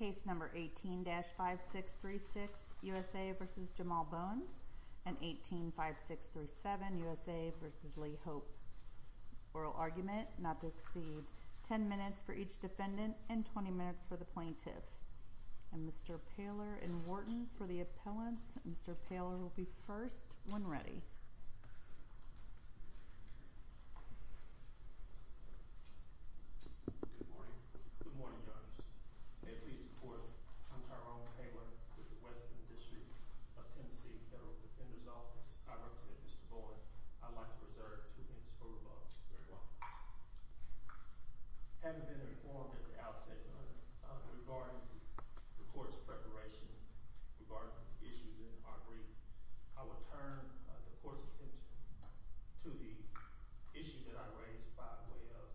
and 185637 U.S.A. v. Lee Hope. Oral argument, not to exceed 10 minutes for each defendant and 20 minutes for the plaintiff. Mr. Poehler and Wharton, for the appellants. Mr. Poehler will be first when ready. Good morning. Good morning, Your Honors. May it please the Court, I'm Tyrone Poehler with the Western District of Tennessee Federal Defender's Office. I represent Mr. Bowen. I'd like to reserve two minutes for rebuttal. Very well. Having been I will turn the Court's attention to the issue that I raised by way of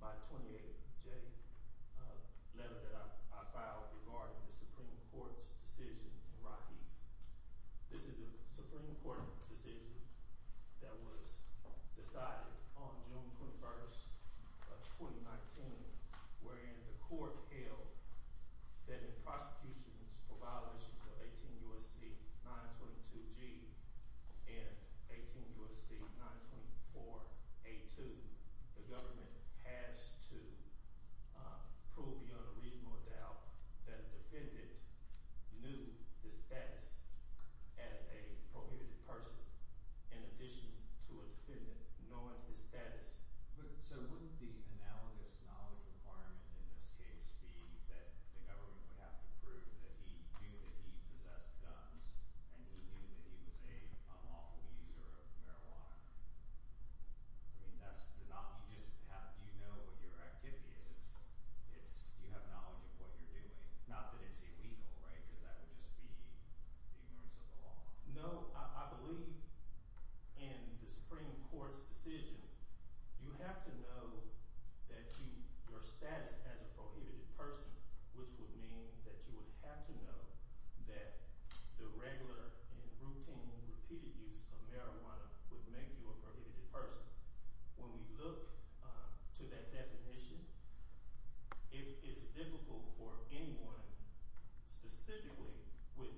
my 28-J letter that I filed regarding the Supreme Court's decision in Raheem. This is a Supreme Court decision that was decided on June 21, 2019, wherein the Court held that in prosecutions for violations of 18 U.S.C. 922G and 18 U.S.C. 924A2, the government has to prove beyond a reasonable doubt that a defendant knew his status as a prohibited person in addition to a defendant knowing his status. So wouldn't the analogous knowledge requirement in this case be that the government would have to prove that he knew that he possessed guns and he knew that he was an unlawful user of marijuana? I mean, that's the anomaly. Just how do you know what your activity is? You have knowledge of what you're doing. Not that it's illegal, right? Because that would just be the ignorance of the law. No, I believe in the Supreme Court's would mean that you would have to know that the regular and routine repeated use of marijuana would make you a prohibited person. When we look to that definition, it is difficult for anyone specifically with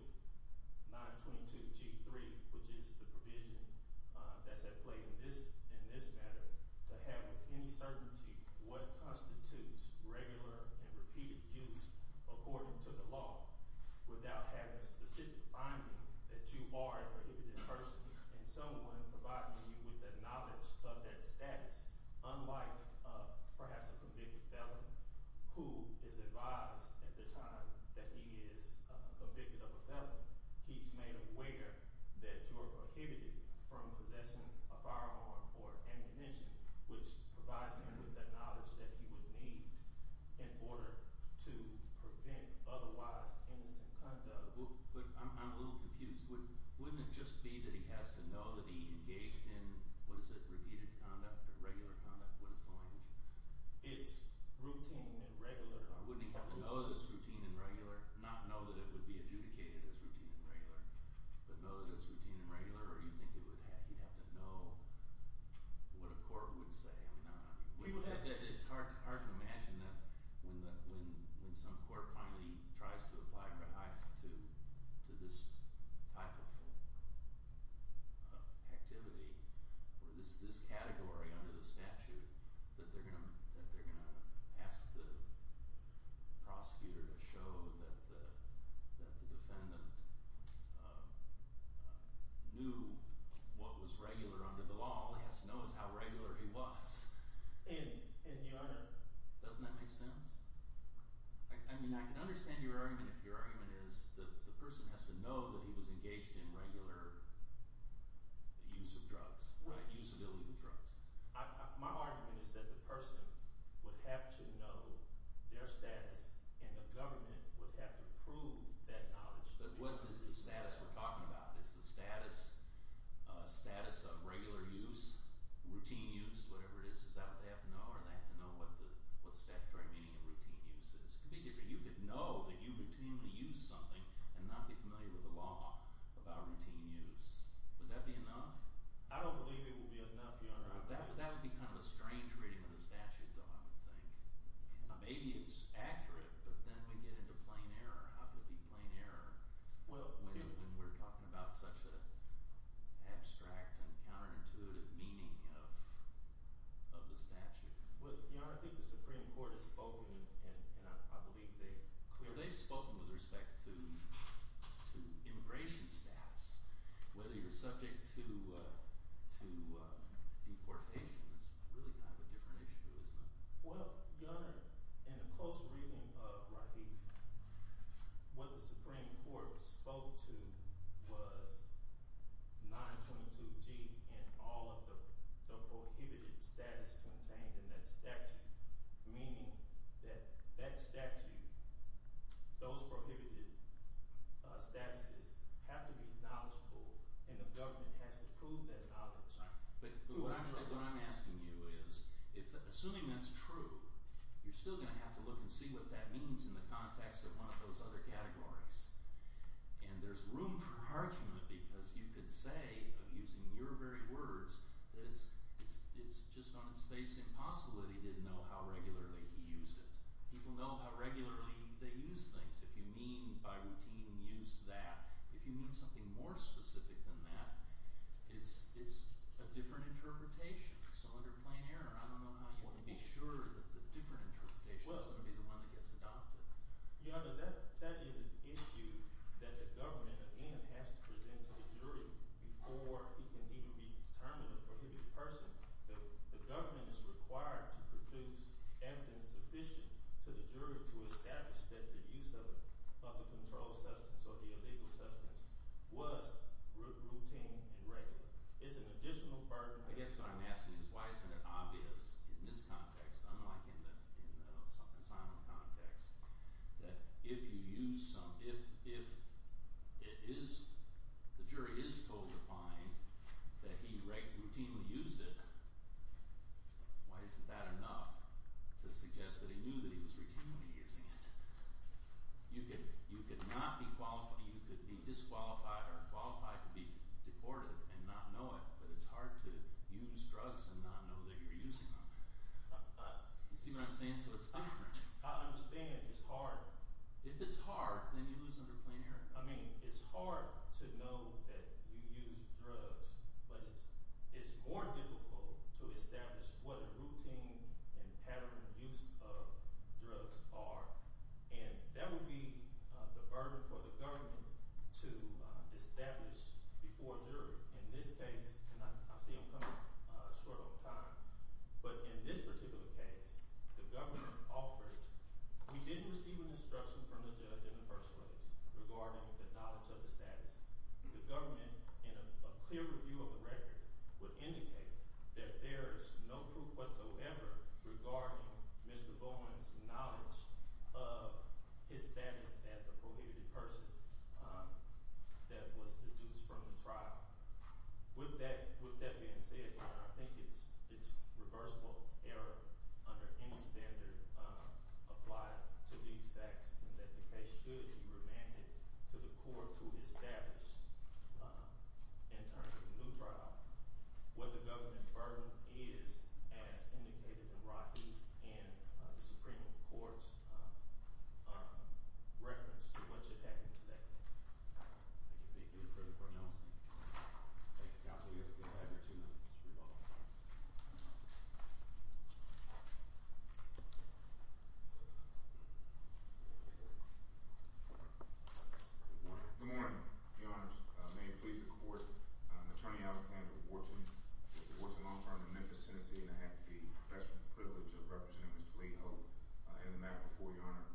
922G3, which is the provision that's at play in this matter, to have any certainty what constitutes regular and repeated use according to the law without having a specific finding that you are a prohibited person and someone providing you with the knowledge of that status, unlike perhaps a convicted felon who is advised at the time that he is convicted of a felony. He's made aware that you're prohibited from possessing a firearm or ammunition, which provides him with that knowledge that he would need in order to prevent otherwise innocent conduct. I'm a little confused. Wouldn't it just be that he has to know that he engaged in, what is it, repeated conduct or regular conduct? What is the language? It's routine and regular. Wouldn't he have to know that it's routine and regular, not know that it would be adjudicated as routine and regular, but know that it's routine and regular? Wouldn't he have to know what a court would say? It's hard to imagine that when some court finally tries to apply Red Hive to this type of activity or this category under the statute, that they're going to ask the prosecutor to show that the he has to know it's how regular he was. Doesn't that make sense? I mean, I can understand your argument if your argument is that the person has to know that he was engaged in regular use of drugs, use of illegal drugs. My argument is that the person would have to know their status and the government would have to prove that knowledge. But what is the status we're talking about? Is the status of regular use, routine use, whatever it is, is that what they have to know or do they have to know what the statutory meaning of routine use is? It could be different. You could know that you routinely use something and not be familiar with the law about routine use. Would that be enough? I don't believe it would be enough, Your Honor. That would be kind of a strange reading of the statute, though, I would think. Maybe it's accurate, but then we get into plain error. How could it be plain error when we're talking about such an abstract and counterintuitive meaning of the statute? Well, Your Honor, I think the Supreme Court has spoken, and I believe they've clearly spoken with respect to immigration status. Whether you're subject to deportation is really kind of a different issue, isn't it? Well, Your Honor, in a close reading of Rahif, what the Supreme Court spoke to was 922G and all of the prohibited status contained in that statute, meaning that that statute, those prohibited statuses have to be knowledgeable and the government has to prove that knowledge. But what I'm asking you is, assuming that's true, you're still going to have to look and see what that means in the context of one of those other categories. And there's room for argument because you could say, using your very words, that it's just on its face impossible that he didn't know how regularly he used it. People know how regularly they use things. If you mean by routine use that, if you mean something more specific than that, it's a different interpretation. So under plain error, I don't know how you can be sure that the different interpretation is going to be the one that gets adopted. Your Honor, that is an issue that the government, again, has to present to the jury before he can even be determined a prohibited person. The government is required to produce evidence sufficient to the jury to establish that the use of the controlled substance or the illegal substance was routine and regular. It's an additional burden. I guess what I'm asking is why isn't it obvious in this context, unlike in the asylum context, that if you use some, if it is, the jury is told to find that he routinely used it, why isn't that enough to suggest that he knew that he was routinely using it? You could not be qualified, you could be disqualified or qualified to be deported and not know it, but it's hard to use drugs and not know that you're using them. You see what I'm saying? So it's different. I understand it's hard. If it's hard, then you lose under plain error. I mean, it's hard to know that you used drugs, but it's more difficult to establish what the routine and patterned use of drugs are, and that would be the burden for the government to establish before a jury. In this case, and I see I'm coming short on time, but in this particular case, the government offered, we didn't receive an instruction from the judge in the first place regarding the knowledge of the status. The government, in a clear review of the record, would indicate that there is no proof whatsoever regarding Mr. Bowen's knowledge of his status as a prohibited person that was deduced from the trial. With that being said, I think it's reversible error under any standard applied to these to the court to establish, in terms of the new trial, what the government burden is, as indicated in Rahi's and the Supreme Court's reference to what should happen to that case. Thank you. Thank you for the pronouncement. Thank you. Counsel, you'll have your two minutes. Good morning. Good morning. Your Honors, may it please the court, I'm attorney Alexander Warton, Warton Law Firm in Memphis, Tennessee, and I have the special privilege of representing Mr. Lee Hope in the mat before Your Honor.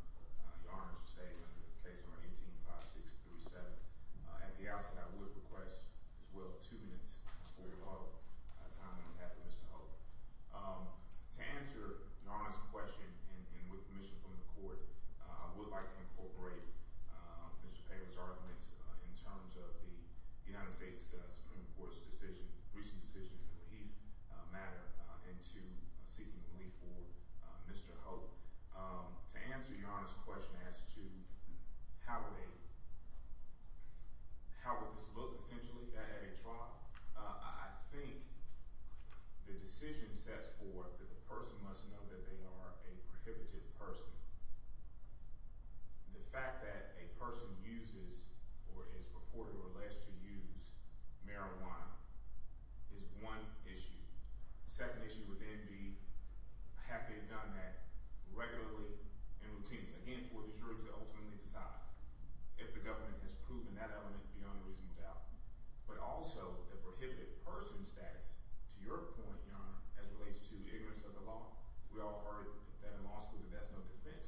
Your Honor is to stay under the case number 18-5637. At the outset, I would request, as well, two minutes for your call time on behalf of Mr. Hope. To answer Your Honor's question and with permission from the court, I would like to incorporate Mr. Payne's arguments in terms of the United States Supreme Court's decision, recent decision in the Leahy matter, into seeking relief for Mr. Hope. To answer Your Honor's question as to how would this look, essentially, at a trial, I think the decision sets forth that the person must know that they are a prohibited person. The fact that a person uses or is purported or alleged to use marijuana is one issue. The second issue would then be, have they done that regularly and routinely? Again, for the jury to ultimately decide if the government has proven that element beyond a reasonable doubt. But also, the prohibited person status, to your point, Your Honor, as it relates to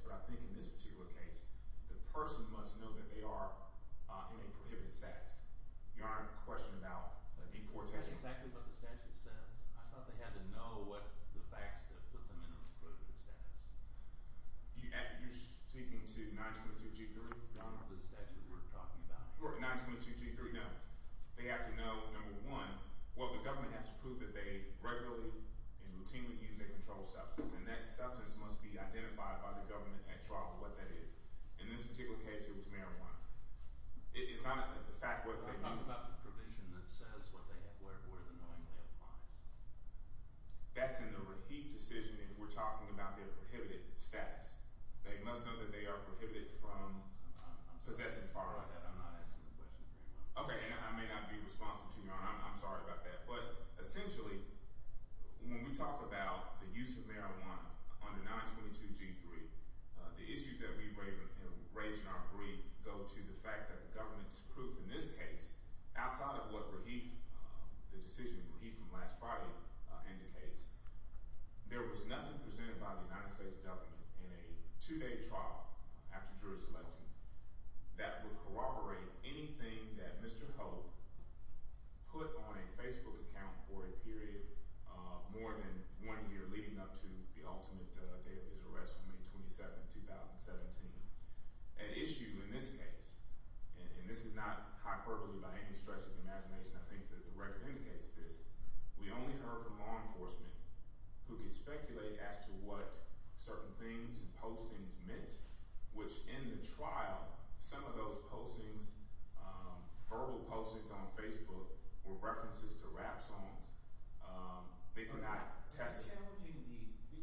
But I think in this particular case, the person must know that they are in a prohibited status. Your Honor, the question about deportation. That's exactly what the statute says. I thought they had to know what the facts that put them in a prohibited status. You're speaking to 922-G3? The statute we're talking about. 922-G3, no. They have to know, number one, what the government has to prove that they regularly and routinely use a controlled substance, and that substance must be identified by the government at trial for what that is. In this particular case, it was marijuana. It's not the fact that they knew. I'm talking about the provision that says where the knowingly applies. That's in the receipt decision if we're talking about their prohibited status. They must know that they are prohibited from possessing. I'm not asking the question. Okay, I may not be responsive to you, Your Honor. I'm sorry about that. But essentially, when we talk about the use of marijuana under 922-G3, the issues that we raised in our brief go to the fact that the government's proof in this case, outside of what Rahif, the decision of Rahif from last Friday indicates, there was nothing presented by the United States government in a two-day trial after jury selection that would corroborate anything that Mr. Hope put on a Facebook account for a period more than one year leading up to the ultimate day of his arrest, May 27, 2017. An issue in this case, and this is not hyperbole by any stretch of the imagination, I think, that the record indicates this, we only heard from law enforcement who could speculate as to what certain things and postings meant, which in the trial, some of those postings, verbal postings on Facebook were references to rap songs. They could not testify. But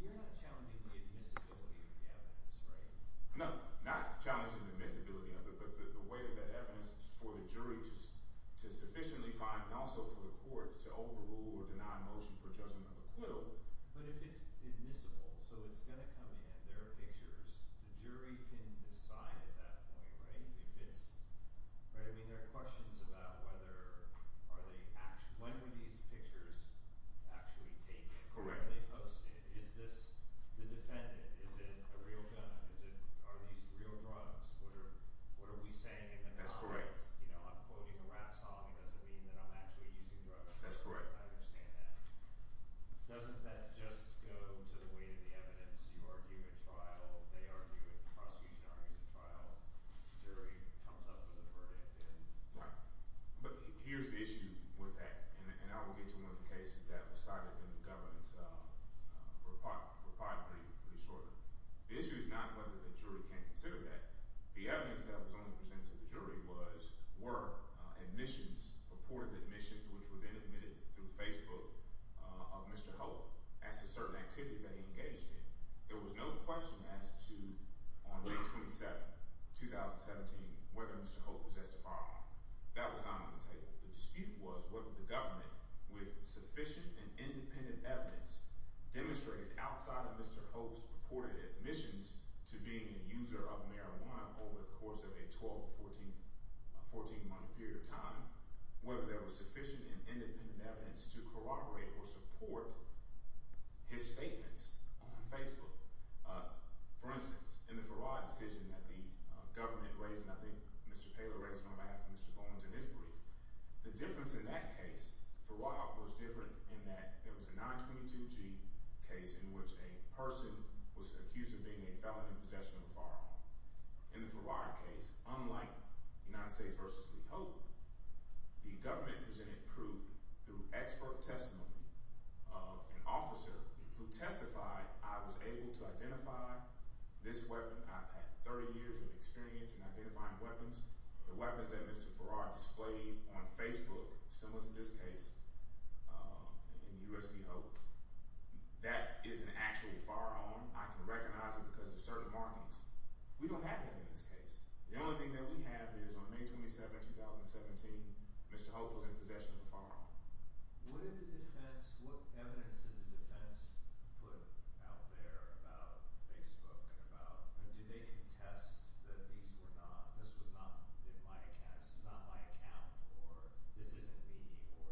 you're not challenging the admissibility of the evidence, right? No, not challenging the admissibility of it, but the way that evidence was for the jury to sufficiently find and also for the court to overrule or deny motion for judgment of acquittal. But if it's admissible, so it's going to come in, there are pictures, the jury can decide at that point, right? I mean, there are questions about when were these pictures actually taken, correctly posted. Is this the defendant? Is it a real gun? Are these real drugs? What are we saying in the comments? You know, I'm quoting a rap song. It doesn't mean that I'm actually using drugs. That's correct. I understand that. Doesn't that just go to the weight of the evidence? You argue at trial, they argue at the prosecution argues at trial, jury comes up with a verdict. Right. But here's the issue with that. And I will get to one of the cases that was cited in the government report pretty shortly. The issue is not whether the jury can consider that. The evidence that was only presented to the jury was, were admissions, purported admissions, which were then admitted through Facebook of Mr. Hope as to certain activities that he engaged in. There was no question as to, on June 27, 2017, whether Mr. Hope possessed a firearm. That was not on the table. The dispute was whether the government, with sufficient and independent evidence, demonstrated outside of Mr. Hope's purported admissions to being a user of marijuana over the course of a 12, 14 month period of time, whether there was sufficient and independent evidence to corroborate or support his statements on Facebook. For instance, in the Farad decision that the government raised nothing, Mr. Paler raised no matter, Mr. Bowens in his brief. The difference in that case, Farad was different in that it was a 922G case in which a person was accused of being a felon in possession of a firearm. In the Farad case, unlike United States v. Lee Hope, the government presented proof through expert testimony of an officer who testified, I was able to identify this weapon. I've had 30 years of experience in identifying weapons. The weapons that Mr. Farad displayed on Facebook, similar to this case in the U.S. v. Hope, that is an actual firearm. I can recognize it because of certain markings. We don't have that in this case. The only thing that we have is on May 27, 2017, Mr. Hope was in possession of a firearm. What evidence did the defense put out there about Facebook? Did they contest that these were not, this was not in my account, this is not my account, or this isn't me, or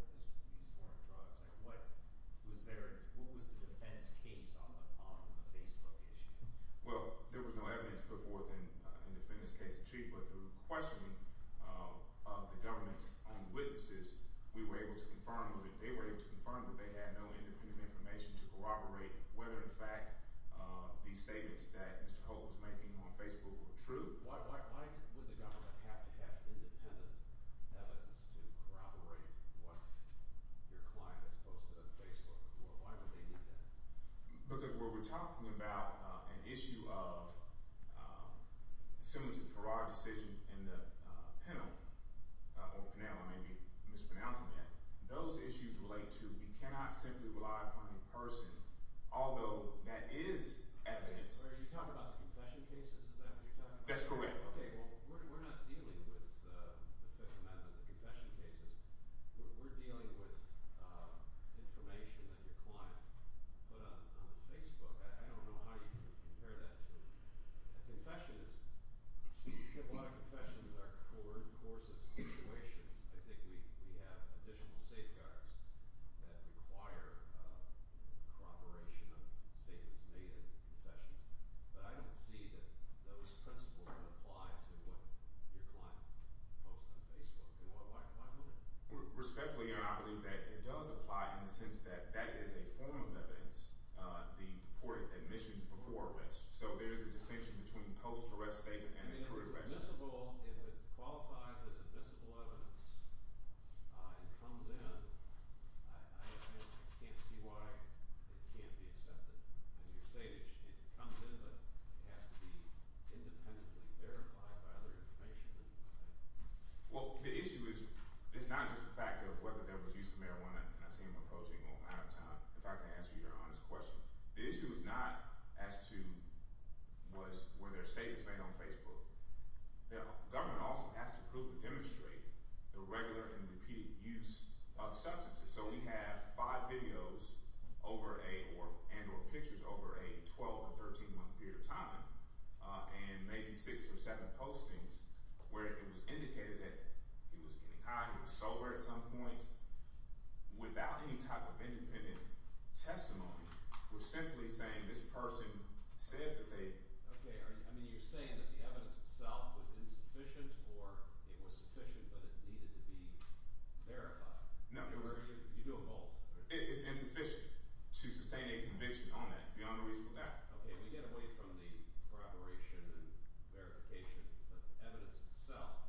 these weren't drugs? What was the defense case on the Facebook issue? Well, there was no evidence put forth in the defendant's case, but through questioning of the government's own witnesses, we were able to confirm that they were able to confirm that they had no independent information to corroborate whether in fact these statements that Mr. Hope was making on Facebook were true. Why would the government have to have independent evidence to corroborate what your client has posted on Facebook? Why would they need that? Because what we're talking about, an issue of, similar to the Farad decision in the Pennell, or Pennell, I may be mispronouncing that, those issues relate to we cannot simply rely upon a person, although that is evidence. Are you talking about the confession cases? Is that what you're talking about? That's correct. Okay, well, we're not dealing with the Fifth Amendment, the confession cases. We're dealing with information that your client put on Facebook. I don't know how you compare that to a confession. A lot of confessions are court-courses situations. I think we have additional safeguards that require corroboration of statements made in those principles that apply to what your client posts on Facebook. Why wouldn't it? Respectfully, I believe that it does apply in the sense that that is a form of evidence, the court admissions before arrest. So there is a distinction between post-arrest statements and incurred arrests. If it qualifies as admissible evidence, it comes in, I can't see why it can't be accepted as your statement. It comes in, but it has to be independently verified by other information. Well, the issue is not just the fact of whether there was use of marijuana, and I see him approaching on a matter of time, if I can answer your honest question. The issue is not as to whether a statement was made on Facebook. The government also has to prove and demonstrate the regular and repeated use of substances. So we have five videos and or pictures over a 12 or 13 month period of time, and maybe six or seven postings where it was indicated that he was getting high, he was sober at some point, without any type of independent testimony. We're simply saying this person said that they... Okay, I mean you're saying that the evidence itself was insufficient or it was sufficient but it needed to be verified? No. Did you do a pulse? It's insufficient to sustain a conviction on that, beyond a reasonable doubt. Okay, we get away from the corroboration and verification, but the evidence itself,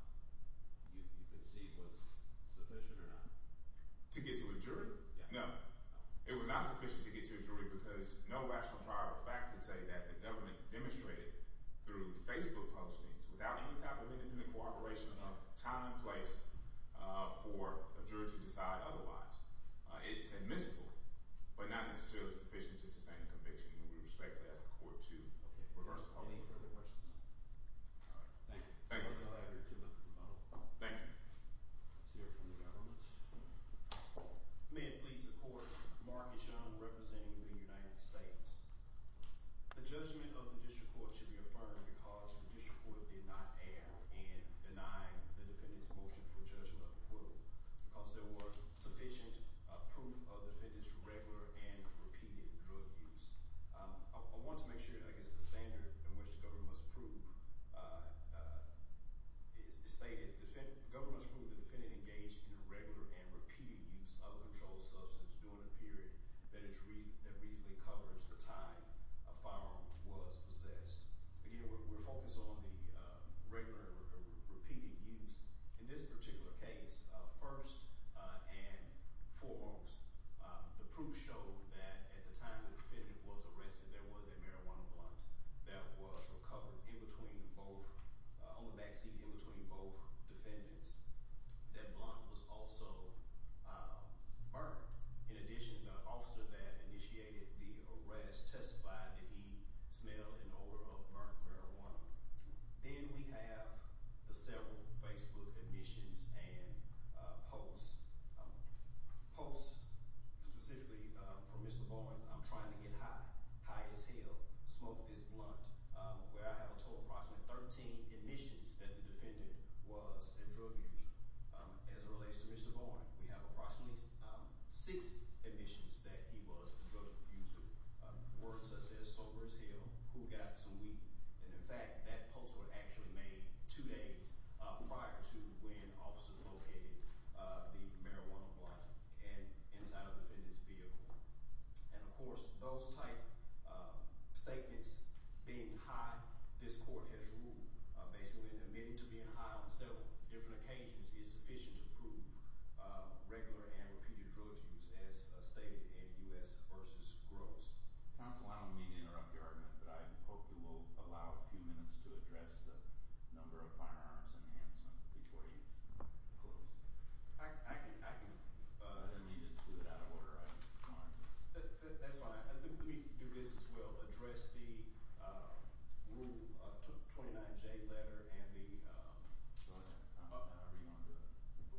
you could see was sufficient or not? To get to a jury? Yeah. No. It was not sufficient to get to a jury because no rational fact can say that the government demonstrated through Facebook postings, without any type of independent corroboration of time and place, for a jury to decide otherwise. It's admissible, but not necessarily sufficient to sustain a conviction, and we respectfully ask the court to reverse the call. Any further questions? All right. Thank you. Thank you. I'll allow you to look at the model. Thank you. Let's hear it from the government. May it please the court, Mark Eshaun representing the United States. The judgment of the district court should be affirmed because the district court did not err in denying the defendant's motion for judgment of the court, because there was sufficient proof of the defendant's regular and repeated drug use. I want to make sure, I guess, the standard in which the government must prove is stated. The government must prove the defendant engaged in regular and repeated use of a controlled substance during a period that reasonably covers the time a firearm was possessed. Again, we're focused on the regular and repeated use. In this particular case, first and foremost, the proof showed that at the time the defendant was arrested, there was a marijuana blunt that was recovered on the backseat in between both defendants. That blunt was also burned. In addition, the officer that initiated the arrest testified that he smelled an odor of burned marijuana. Then we have the several Facebook admissions and posts, posts specifically from Mr. Bowen, I'm trying to get high, high as hell, smoke this blunt, where I have a total of approximately 13 admissions that the defendant was in drug use. As it relates to Mr. Bowen, we have approximately six admissions that he was in drug use, words such as sober as hell, who got some weed. In fact, that post was actually made two days prior to when officers located the marijuana blunt inside of the defendant's vehicle. Of course, those type of statements being high, this court has ruled, basically admitting to being high on several different occasions is sufficient to prove regular and repeated drug use as stated in U.S. v. Gross. Counsel, I don't mean to interrupt your argument, but I hope you will allow a few minutes to address the number of firearms enhancement before you close. I can, I can. I didn't mean to do it out of order. That's fine. Let me do this as well. I will address the Rule 29J letter and the... Go ahead. However you want to do it.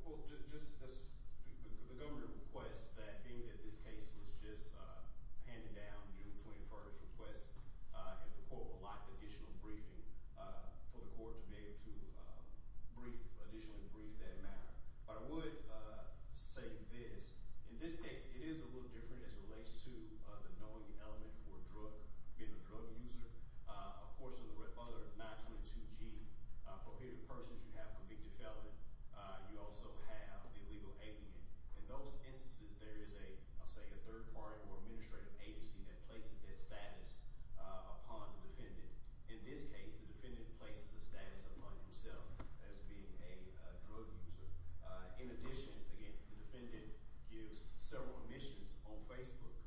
Well, just the governor requests that, being that this case was just handed down during the 21st request, if the court would like additional briefing for the court to be able to additionally brief that matter. But I would say this. In this case, it is a little different as it relates to the knowing element for drug, being a drug user. Of course, in the other 922G prohibited persons, you have convicted felon. You also have the illegal alien. In those instances, there is a, I'll say a third party or administrative agency that places that status upon the defendant. In this case, the defendant places the status upon himself as being a drug user. In addition, again, the defendant gives several omissions on Facebook,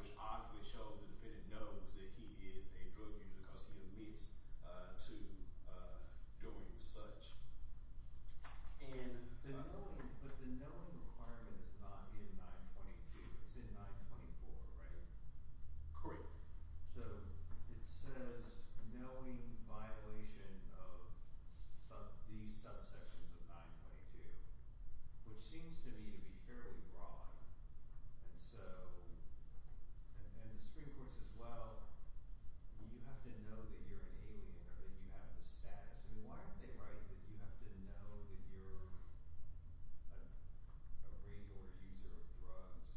which obviously shows the defendant knows that he is a drug user because he omits to doing such. And... But the knowing requirement is not in 922. It's in 924, right? Correct. So it says knowing violation of these subsections of 922, which seems to me to be fairly broad. And so, and the Supreme Court says, well, you have to know that you're an alien or that you have the status. I mean, why aren't they right that you have to know that you're a rate order user of drugs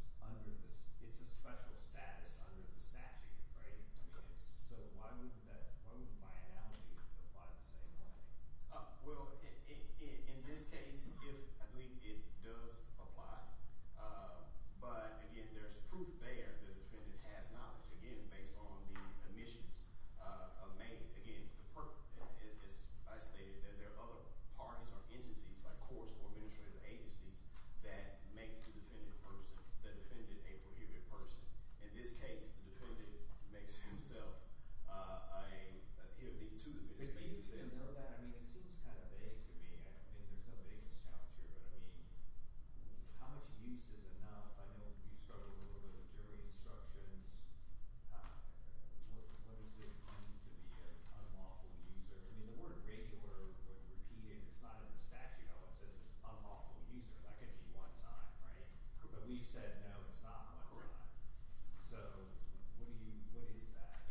It's a special status under the statute, right? So why wouldn't that, why wouldn't my analogy apply the same way? Well, in this case, I believe it does apply. But again, there's proof there that the defendant has knowledge, again, based on the omissions made. Again, I stated that there are other parties or agencies, like courts or administrative agencies, that makes the defendant a person, the defendant a prohibited person. In this case, the defendant makes himself a, the two defendants make themselves... But even to know that, I mean, it seems kind of vague to me. I mean, there's no vagueness challenge here, but I mean, how much use is enough? I know you struggled a little bit with jury instructions. What does it mean to be an unlawful user? I mean, the word rate order, when repeated, it's not in the statute. No one says it's unlawful user. That could be one time, right? But we've said, no, it's not one time. So what do you, what is that?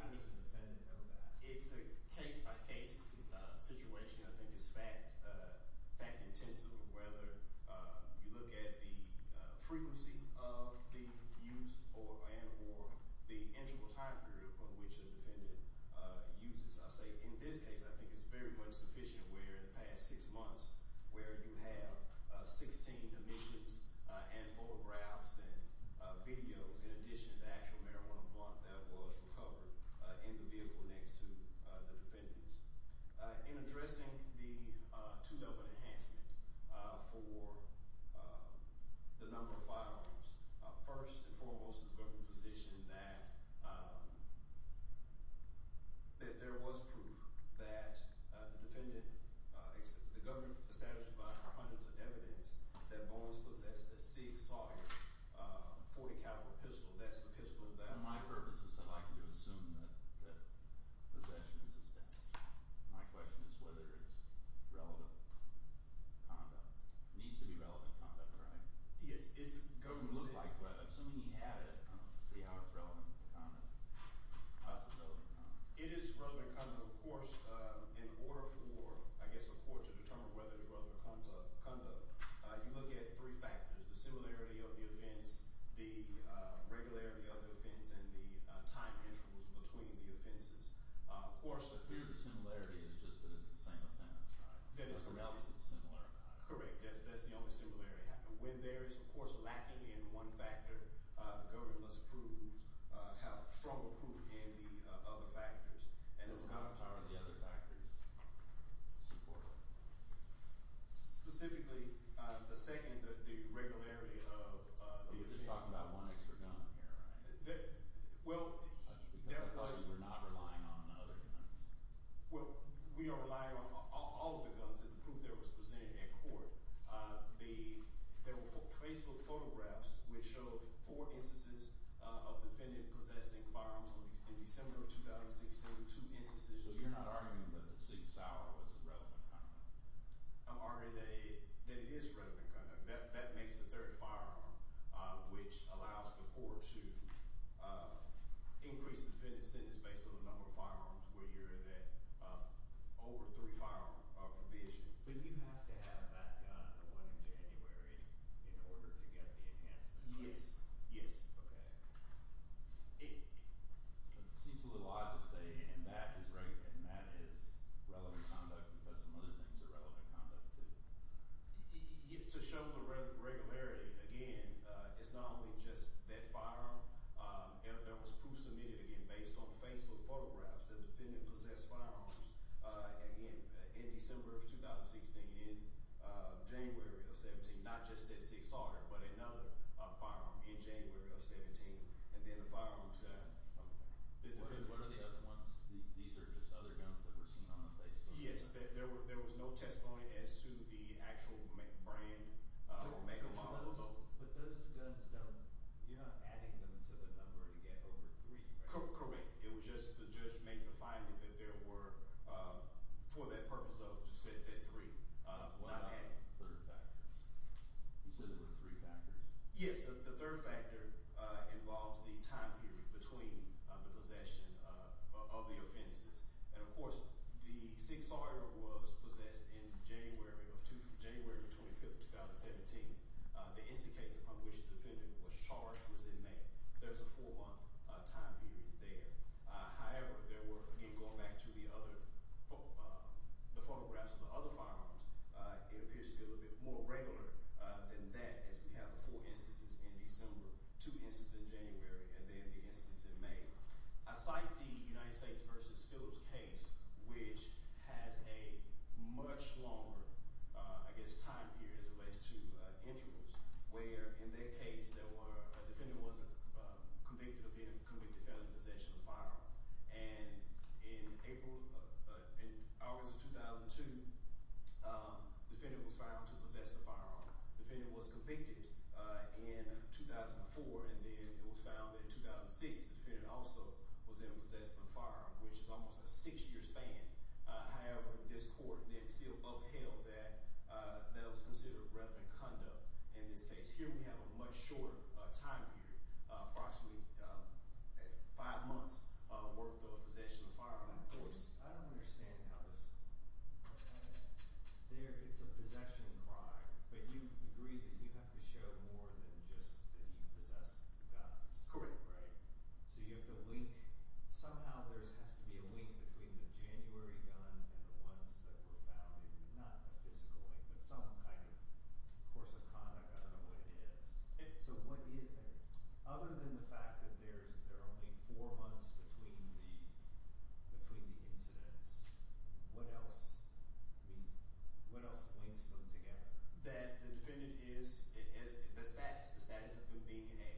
How does the defendant know that? It's a case-by-case situation. I think it's fact-intensive. Whether you look at the frequency of the use or the interval time period of which the defendant uses. I'll say, in this case, I think it's very much sufficient where in the past six months, where you have 16 admissions and photographs and videos, in addition to the actual marijuana blunt that was recovered in the vehicle next to the defendants. In addressing the two-level enhancement for the number of firearms, first and foremost is the government's position that there was proof that the defendant, the government established by our hundreds of evidence, that Bowens possessed a SIG Sawyer 40-caliber pistol. That's the pistol that- For my purposes, I'd like you to assume that possession is established. My question is whether it's relevant conduct. It needs to be relevant conduct, right? It looks like it, but assuming he had it, I don't see how it's relevant conduct. It is relevant conduct. Of course, in order for, I guess, a court to determine whether it's relevant conduct, you look at three factors, the similarity of the offense, the regularity of the offense, and the time intervals between the offenses. Of course, the clear similarity is just that it's the same offense, right? That is correct. What else is similar? Correct. That's the only similarity. When there is, of course, lacking in one factor, the government must prove, have strong proof in the other factors. And it's not- How are the other factors supported? Specifically, the second, the regularity of the- You're just talking about one extra gun here, right? Well- Because the police were not relying on other guns. Well, we are relying on all of the guns in the proof that was presented in court. There were Facebook photographs which showed four instances of defendant possessing firearms in December of 2006. There were two instances- So you're not arguing that the 6-hour was relevant conduct? I'm arguing that it is relevant conduct. That makes the third firearm, which allows the court to increase defendant sentence based on the number of firearms where you're in that over three firearm provision. But you have to have that gun, the one in January, in order to get the enhancement? Yes. Yes. Okay. It seems a little odd to say and that is relevant conduct because some other things are relevant conduct too. To show the regularity, again, it's not only just that firearm. There was proof submitted, again, based on Facebook photographs that the defendant possessed firearms in December of 2016, in January of 2017. Not just that 6-hour, but another firearm in January of 2017. And then the firearms- What are the other ones? These are just other guns that were seen on the Facebook? Yes. There was no testimony as to the actual brand or make or model. But those guns, you're not adding them to the number to get over three, right? Correct. It was just the judge made the finding that there were, for that purpose of, just said that three. What about the third factor? You said there were three factors? Yes. The third factor involves the time period between the possession of the offenses. And, of course, the 6-hour was possessed in January of 2017. The instance case upon which the defendant was charged was in May. There's a four-month time period there. However, there were, again, going back to the photographs of the other firearms, it appears to be a little bit more regular than that as we have the four instances in December, two instances in January, and then the instance in May. I cite the United States v. Phillips case, which has a much longer, I guess, time period as it relates to intervals, where, in that case, a defendant was convicted of being convicted of possession of a firearm. And in August of 2002, the defendant was found to possess a firearm. The defendant was convicted in 2004, and then it was found that in 2006 the defendant also was in possession of a firearm, which is almost a six-year span. However, this court then still upheld that that was considered relevant conduct in this case. Here we have a much shorter time period, approximately five months' worth of possession of a firearm. Now, of course, I don't understand how this – it's a possession crime, but you agree that you have to show more than just that he possessed the guns. Correct. Right? So you have to link – somehow there has to be a link between the January gun and the ones that were found. Not a physical link, but some kind of course of conduct. I don't know what it is. So what – other than the fact that there are only four months between the incidents, what else – I mean, what else links them together? That the defendant is – the status of him being a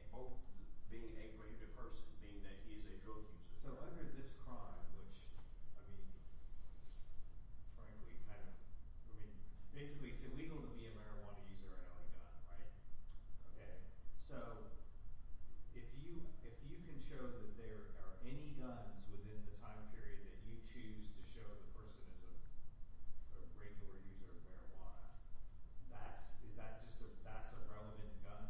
– being a graded person, being that he is a drug user. So under this crime, which, I mean, frankly kind of – I mean, basically it's illegal to be a marijuana user and own a gun, right? Okay. So if you can show that there are any guns within the time period that you choose to show the person is a regular user of marijuana, that's – is that just a – that's a relevant gun?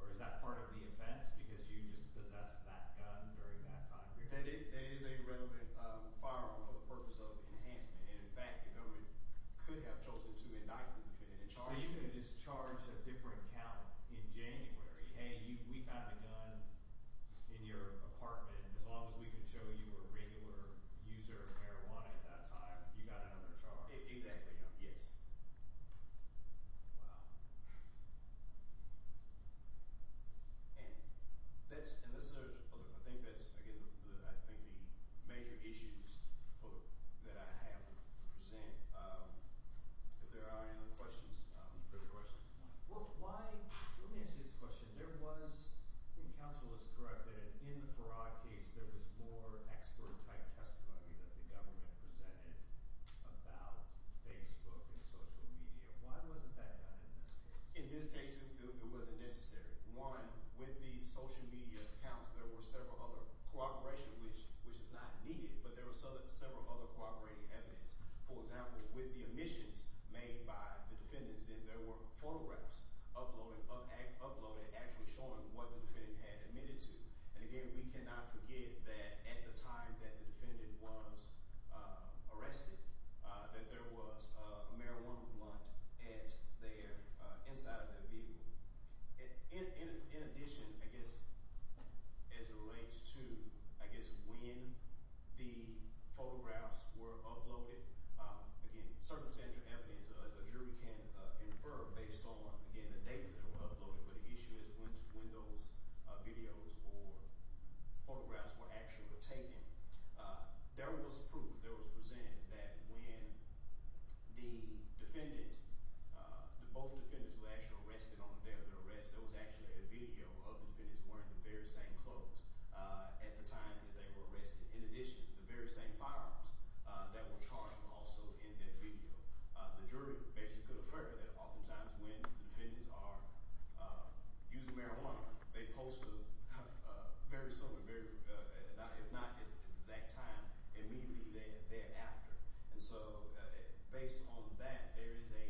Or is that part of the offense because you just possessed that gun during that time period? That is a relevant firearm for the purpose of enhancement, and in fact the government could have chosen to indict the defendant and charge him. So you can just charge a different count in January. Hey, we found a gun in your apartment. As long as we can show you a regular user of marijuana at that time, you got another charge. Exactly, yeah. Yes. Wow. And that's – and this is – I think that's, again, I think the major issues that I have to present. If there are any other questions. Well, why – let me ask you this question. There was – I think counsel is correct that in the Farad case, there was more expert-type testimony that the government presented about Facebook and social media. Why wasn't that done in this case? In this case, it wasn't necessary. One, with the social media accounts, there were several other – cooperation, which is not needed, but there was several other cooperating evidence. For example, with the omissions made by the defendants, there were photographs uploaded actually showing what the defendant had admitted to. And again, we cannot forget that at the time that the defendant was arrested, that there was a marijuana blunt at their – inside of their vehicle. In addition, I guess, as it relates to, I guess, when the photographs were uploaded, again, circumstantial evidence, a jury can infer based on, again, the date that it was uploaded. But the issue is when those videos or photographs were actually taken. There was proof that was presented that when the defendant – both defendants were actually arrested on the day of their arrest, there was actually a video of the defendants wearing the very same clothes at the time that they were arrested. In addition, the very same firearms that were charged were also in that video. So the jury basically could infer that oftentimes when the defendants are using marijuana, they post a very similar – if not at the exact time, immediately thereafter. And so based on that, there is a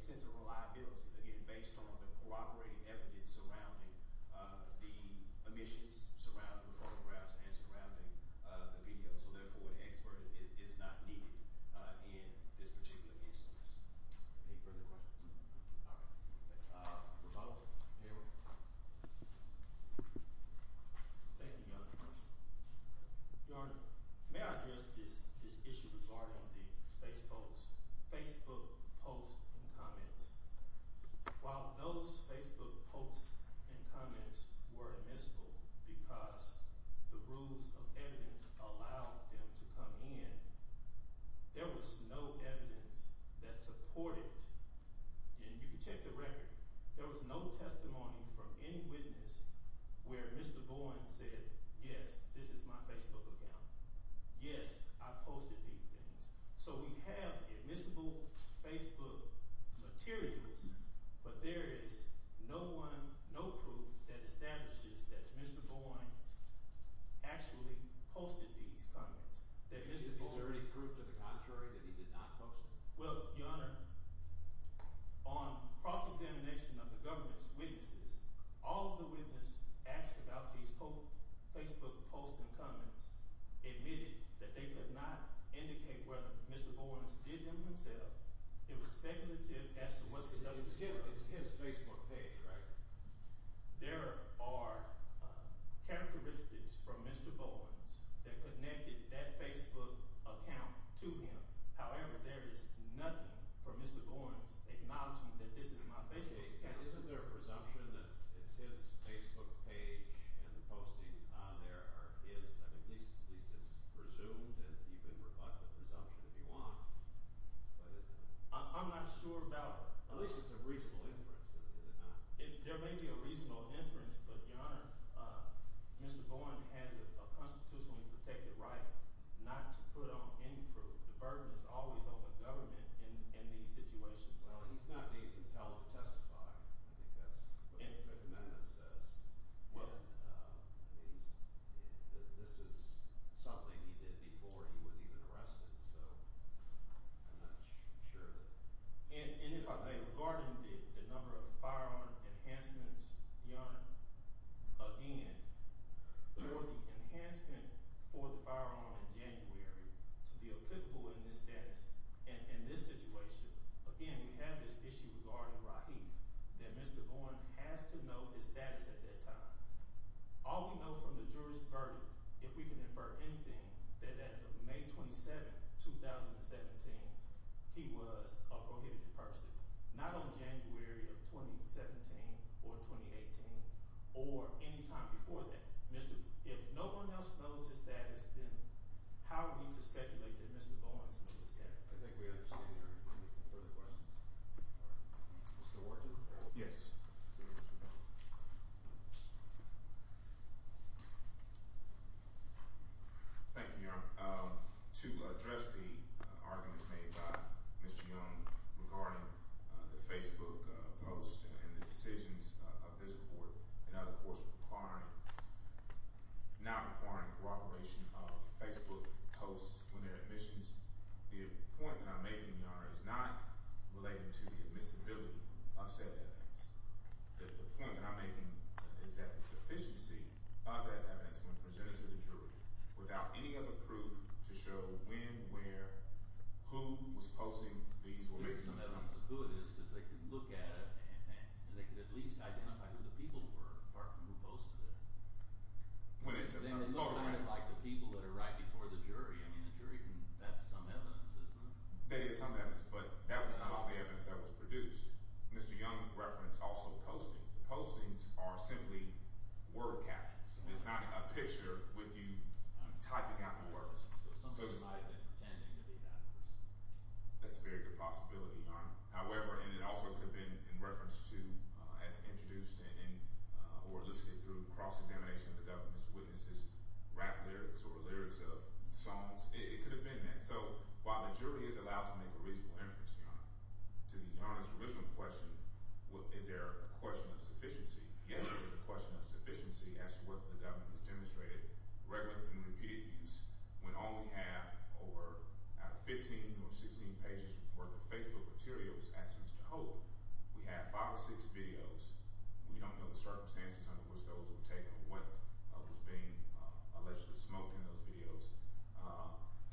sense of reliability, again, based on the cooperating evidence surrounding the omissions, surrounding the photographs, and surrounding the video. And so therefore, an expert is not needed in this particular instance. Any further questions? All right. Revolver. Thank you, Your Honor. Your Honor, may I address this issue regarding the Facebook posts and comments? While those Facebook posts and comments were admissible because the rules of evidence allowed them to come in, there was no evidence that supported – and you can check the record. There was no testimony from any witness where Mr. Bowen said, yes, this is my Facebook account. Yes, I posted these things. So we have admissible Facebook materials, but there is no one – no proof that establishes that Mr. Bowen actually posted these comments, that Mr. Bowen – Is there any proof to the contrary that he did not post them? Well, Your Honor, on cross-examination of the government's witnesses, all of the witnesses asked about these Facebook posts and comments admitted that they could not indicate whether Mr. Bowen did them himself. It was speculative as to whether – So it's his Facebook page, right? There are characteristics from Mr. Bowen that connected that Facebook account to him. However, there is nothing for Mr. Bowen's acknowledgement that this is my Facebook account. Isn't there a presumption that it's his Facebook page and the postings are there are his? I mean, at least it's presumed and you can rebut the presumption if you want, but isn't it? I'm not sure about – At least it's a reasonable inference, is it not? There may be a reasonable inference, but, Your Honor, Mr. Bowen has a constitutionally protected right not to put on any proof. The burden is always on the government in these situations. Well, he's not being compelled to testify. I think that's what the Fifth Amendment says. Well – I mean, this is something he did before he was even arrested, so I'm not sure that – Regarding the number of firearm enhancements, Your Honor, again, for the enhancement for the firearm in January to be applicable in this status, in this situation, again, we have this issue regarding Rahif that Mr. Bowen has to know his status at that time. All we know from the jury's verdict, if we can infer anything, that as of May 27, 2017, he was a prohibited person. Not on January of 2017 or 2018 or any time before that. If no one else knows his status, then how are we to speculate that Mr. Bowen is in this status? I think we understand, Your Honor. Any further questions? Mr. Ward? Yes. Thank you, Your Honor. To address the arguments made by Mr. Young regarding the Facebook post and the decisions of this court, and of course now requiring corroboration of Facebook posts when they're admissions, the point that I'm making, Your Honor, is not related to the admissibility of said evidence. The point that I'm making is that the sufficiency of that evidence when presented to the jury, without any other proof to show when, where, who was posting these or maybe some other— The only reason that's good is because they can look at it and they can at least identify who the people were, apart from who posted it. Well, that's a— Then they look at it like the people that are right before the jury. I mean, the jury can—that's some evidence, isn't it? That is some evidence, but that was not all the evidence that was produced. Mr. Young referenced also postings. The postings are simply word captures. It's not a picture with you typing out the words. So somebody might have been pretending to be that person. That's a very good possibility, Your Honor. However, and it also could have been in reference to, as introduced or listed through cross-examination of the government's witnesses, rap lyrics or lyrics of songs. It could have been that. And so while the jury is allowed to make a reasonable inference, Your Honor, to the Your Honor's original question, is there a question of sufficiency? Yes, there is a question of sufficiency as to whether the government has demonstrated regular and repeated use when all we have over, out of 15 or 16 pages worth of Facebook materials, as to Mr. Hope, we have five or six videos. We don't know the circumstances under which those were taken or what was being allegedly smoked in those videos,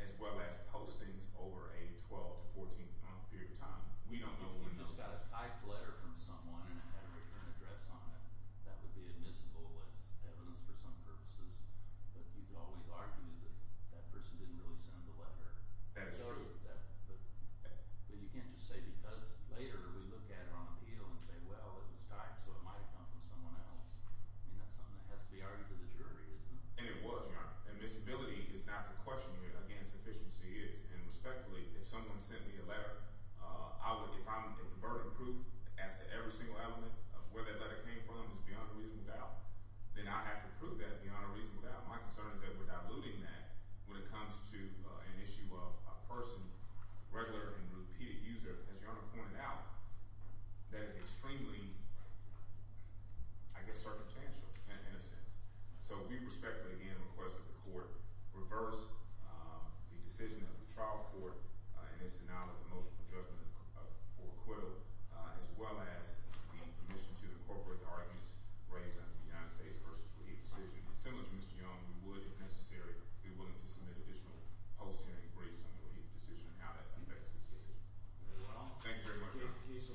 as well as postings over a 12- to 14-month period of time. We don't know when those— If you just got a typed letter from someone and it had a written address on it, that would be admissible as evidence for some purposes. But you could always argue that that person didn't really send the letter. That's true. But you can't just say because later we look at it on appeal and say, well, it was typed, so it might have come from someone else. I mean, that's something that has to be argued to the jury, isn't it? And it was, Your Honor. Admissibility is not the question here against sufficiency. And respectfully, if someone sent me a letter, if I'm a converted proof as to every single element of where that letter came from is beyond a reasonable doubt, then I have to prove that beyond a reasonable doubt. My concern is that we're diluting that when it comes to an issue of a person, regular and repeated user, as Your Honor pointed out, that is extremely, I guess, circumstantial in a sense. So we respectfully, again, request that the court reverse the decision of the trial court in its denial of the motion for judgment for acquittal, as well as being permissioned to incorporate the arguments raised under the United States v. Leahy decision. And similar to Mr. Young, we would, if necessary, be willing to submit additional post-hearing briefs on the Leahy decision and how that affects this decision. Thank you very much, Your Honor.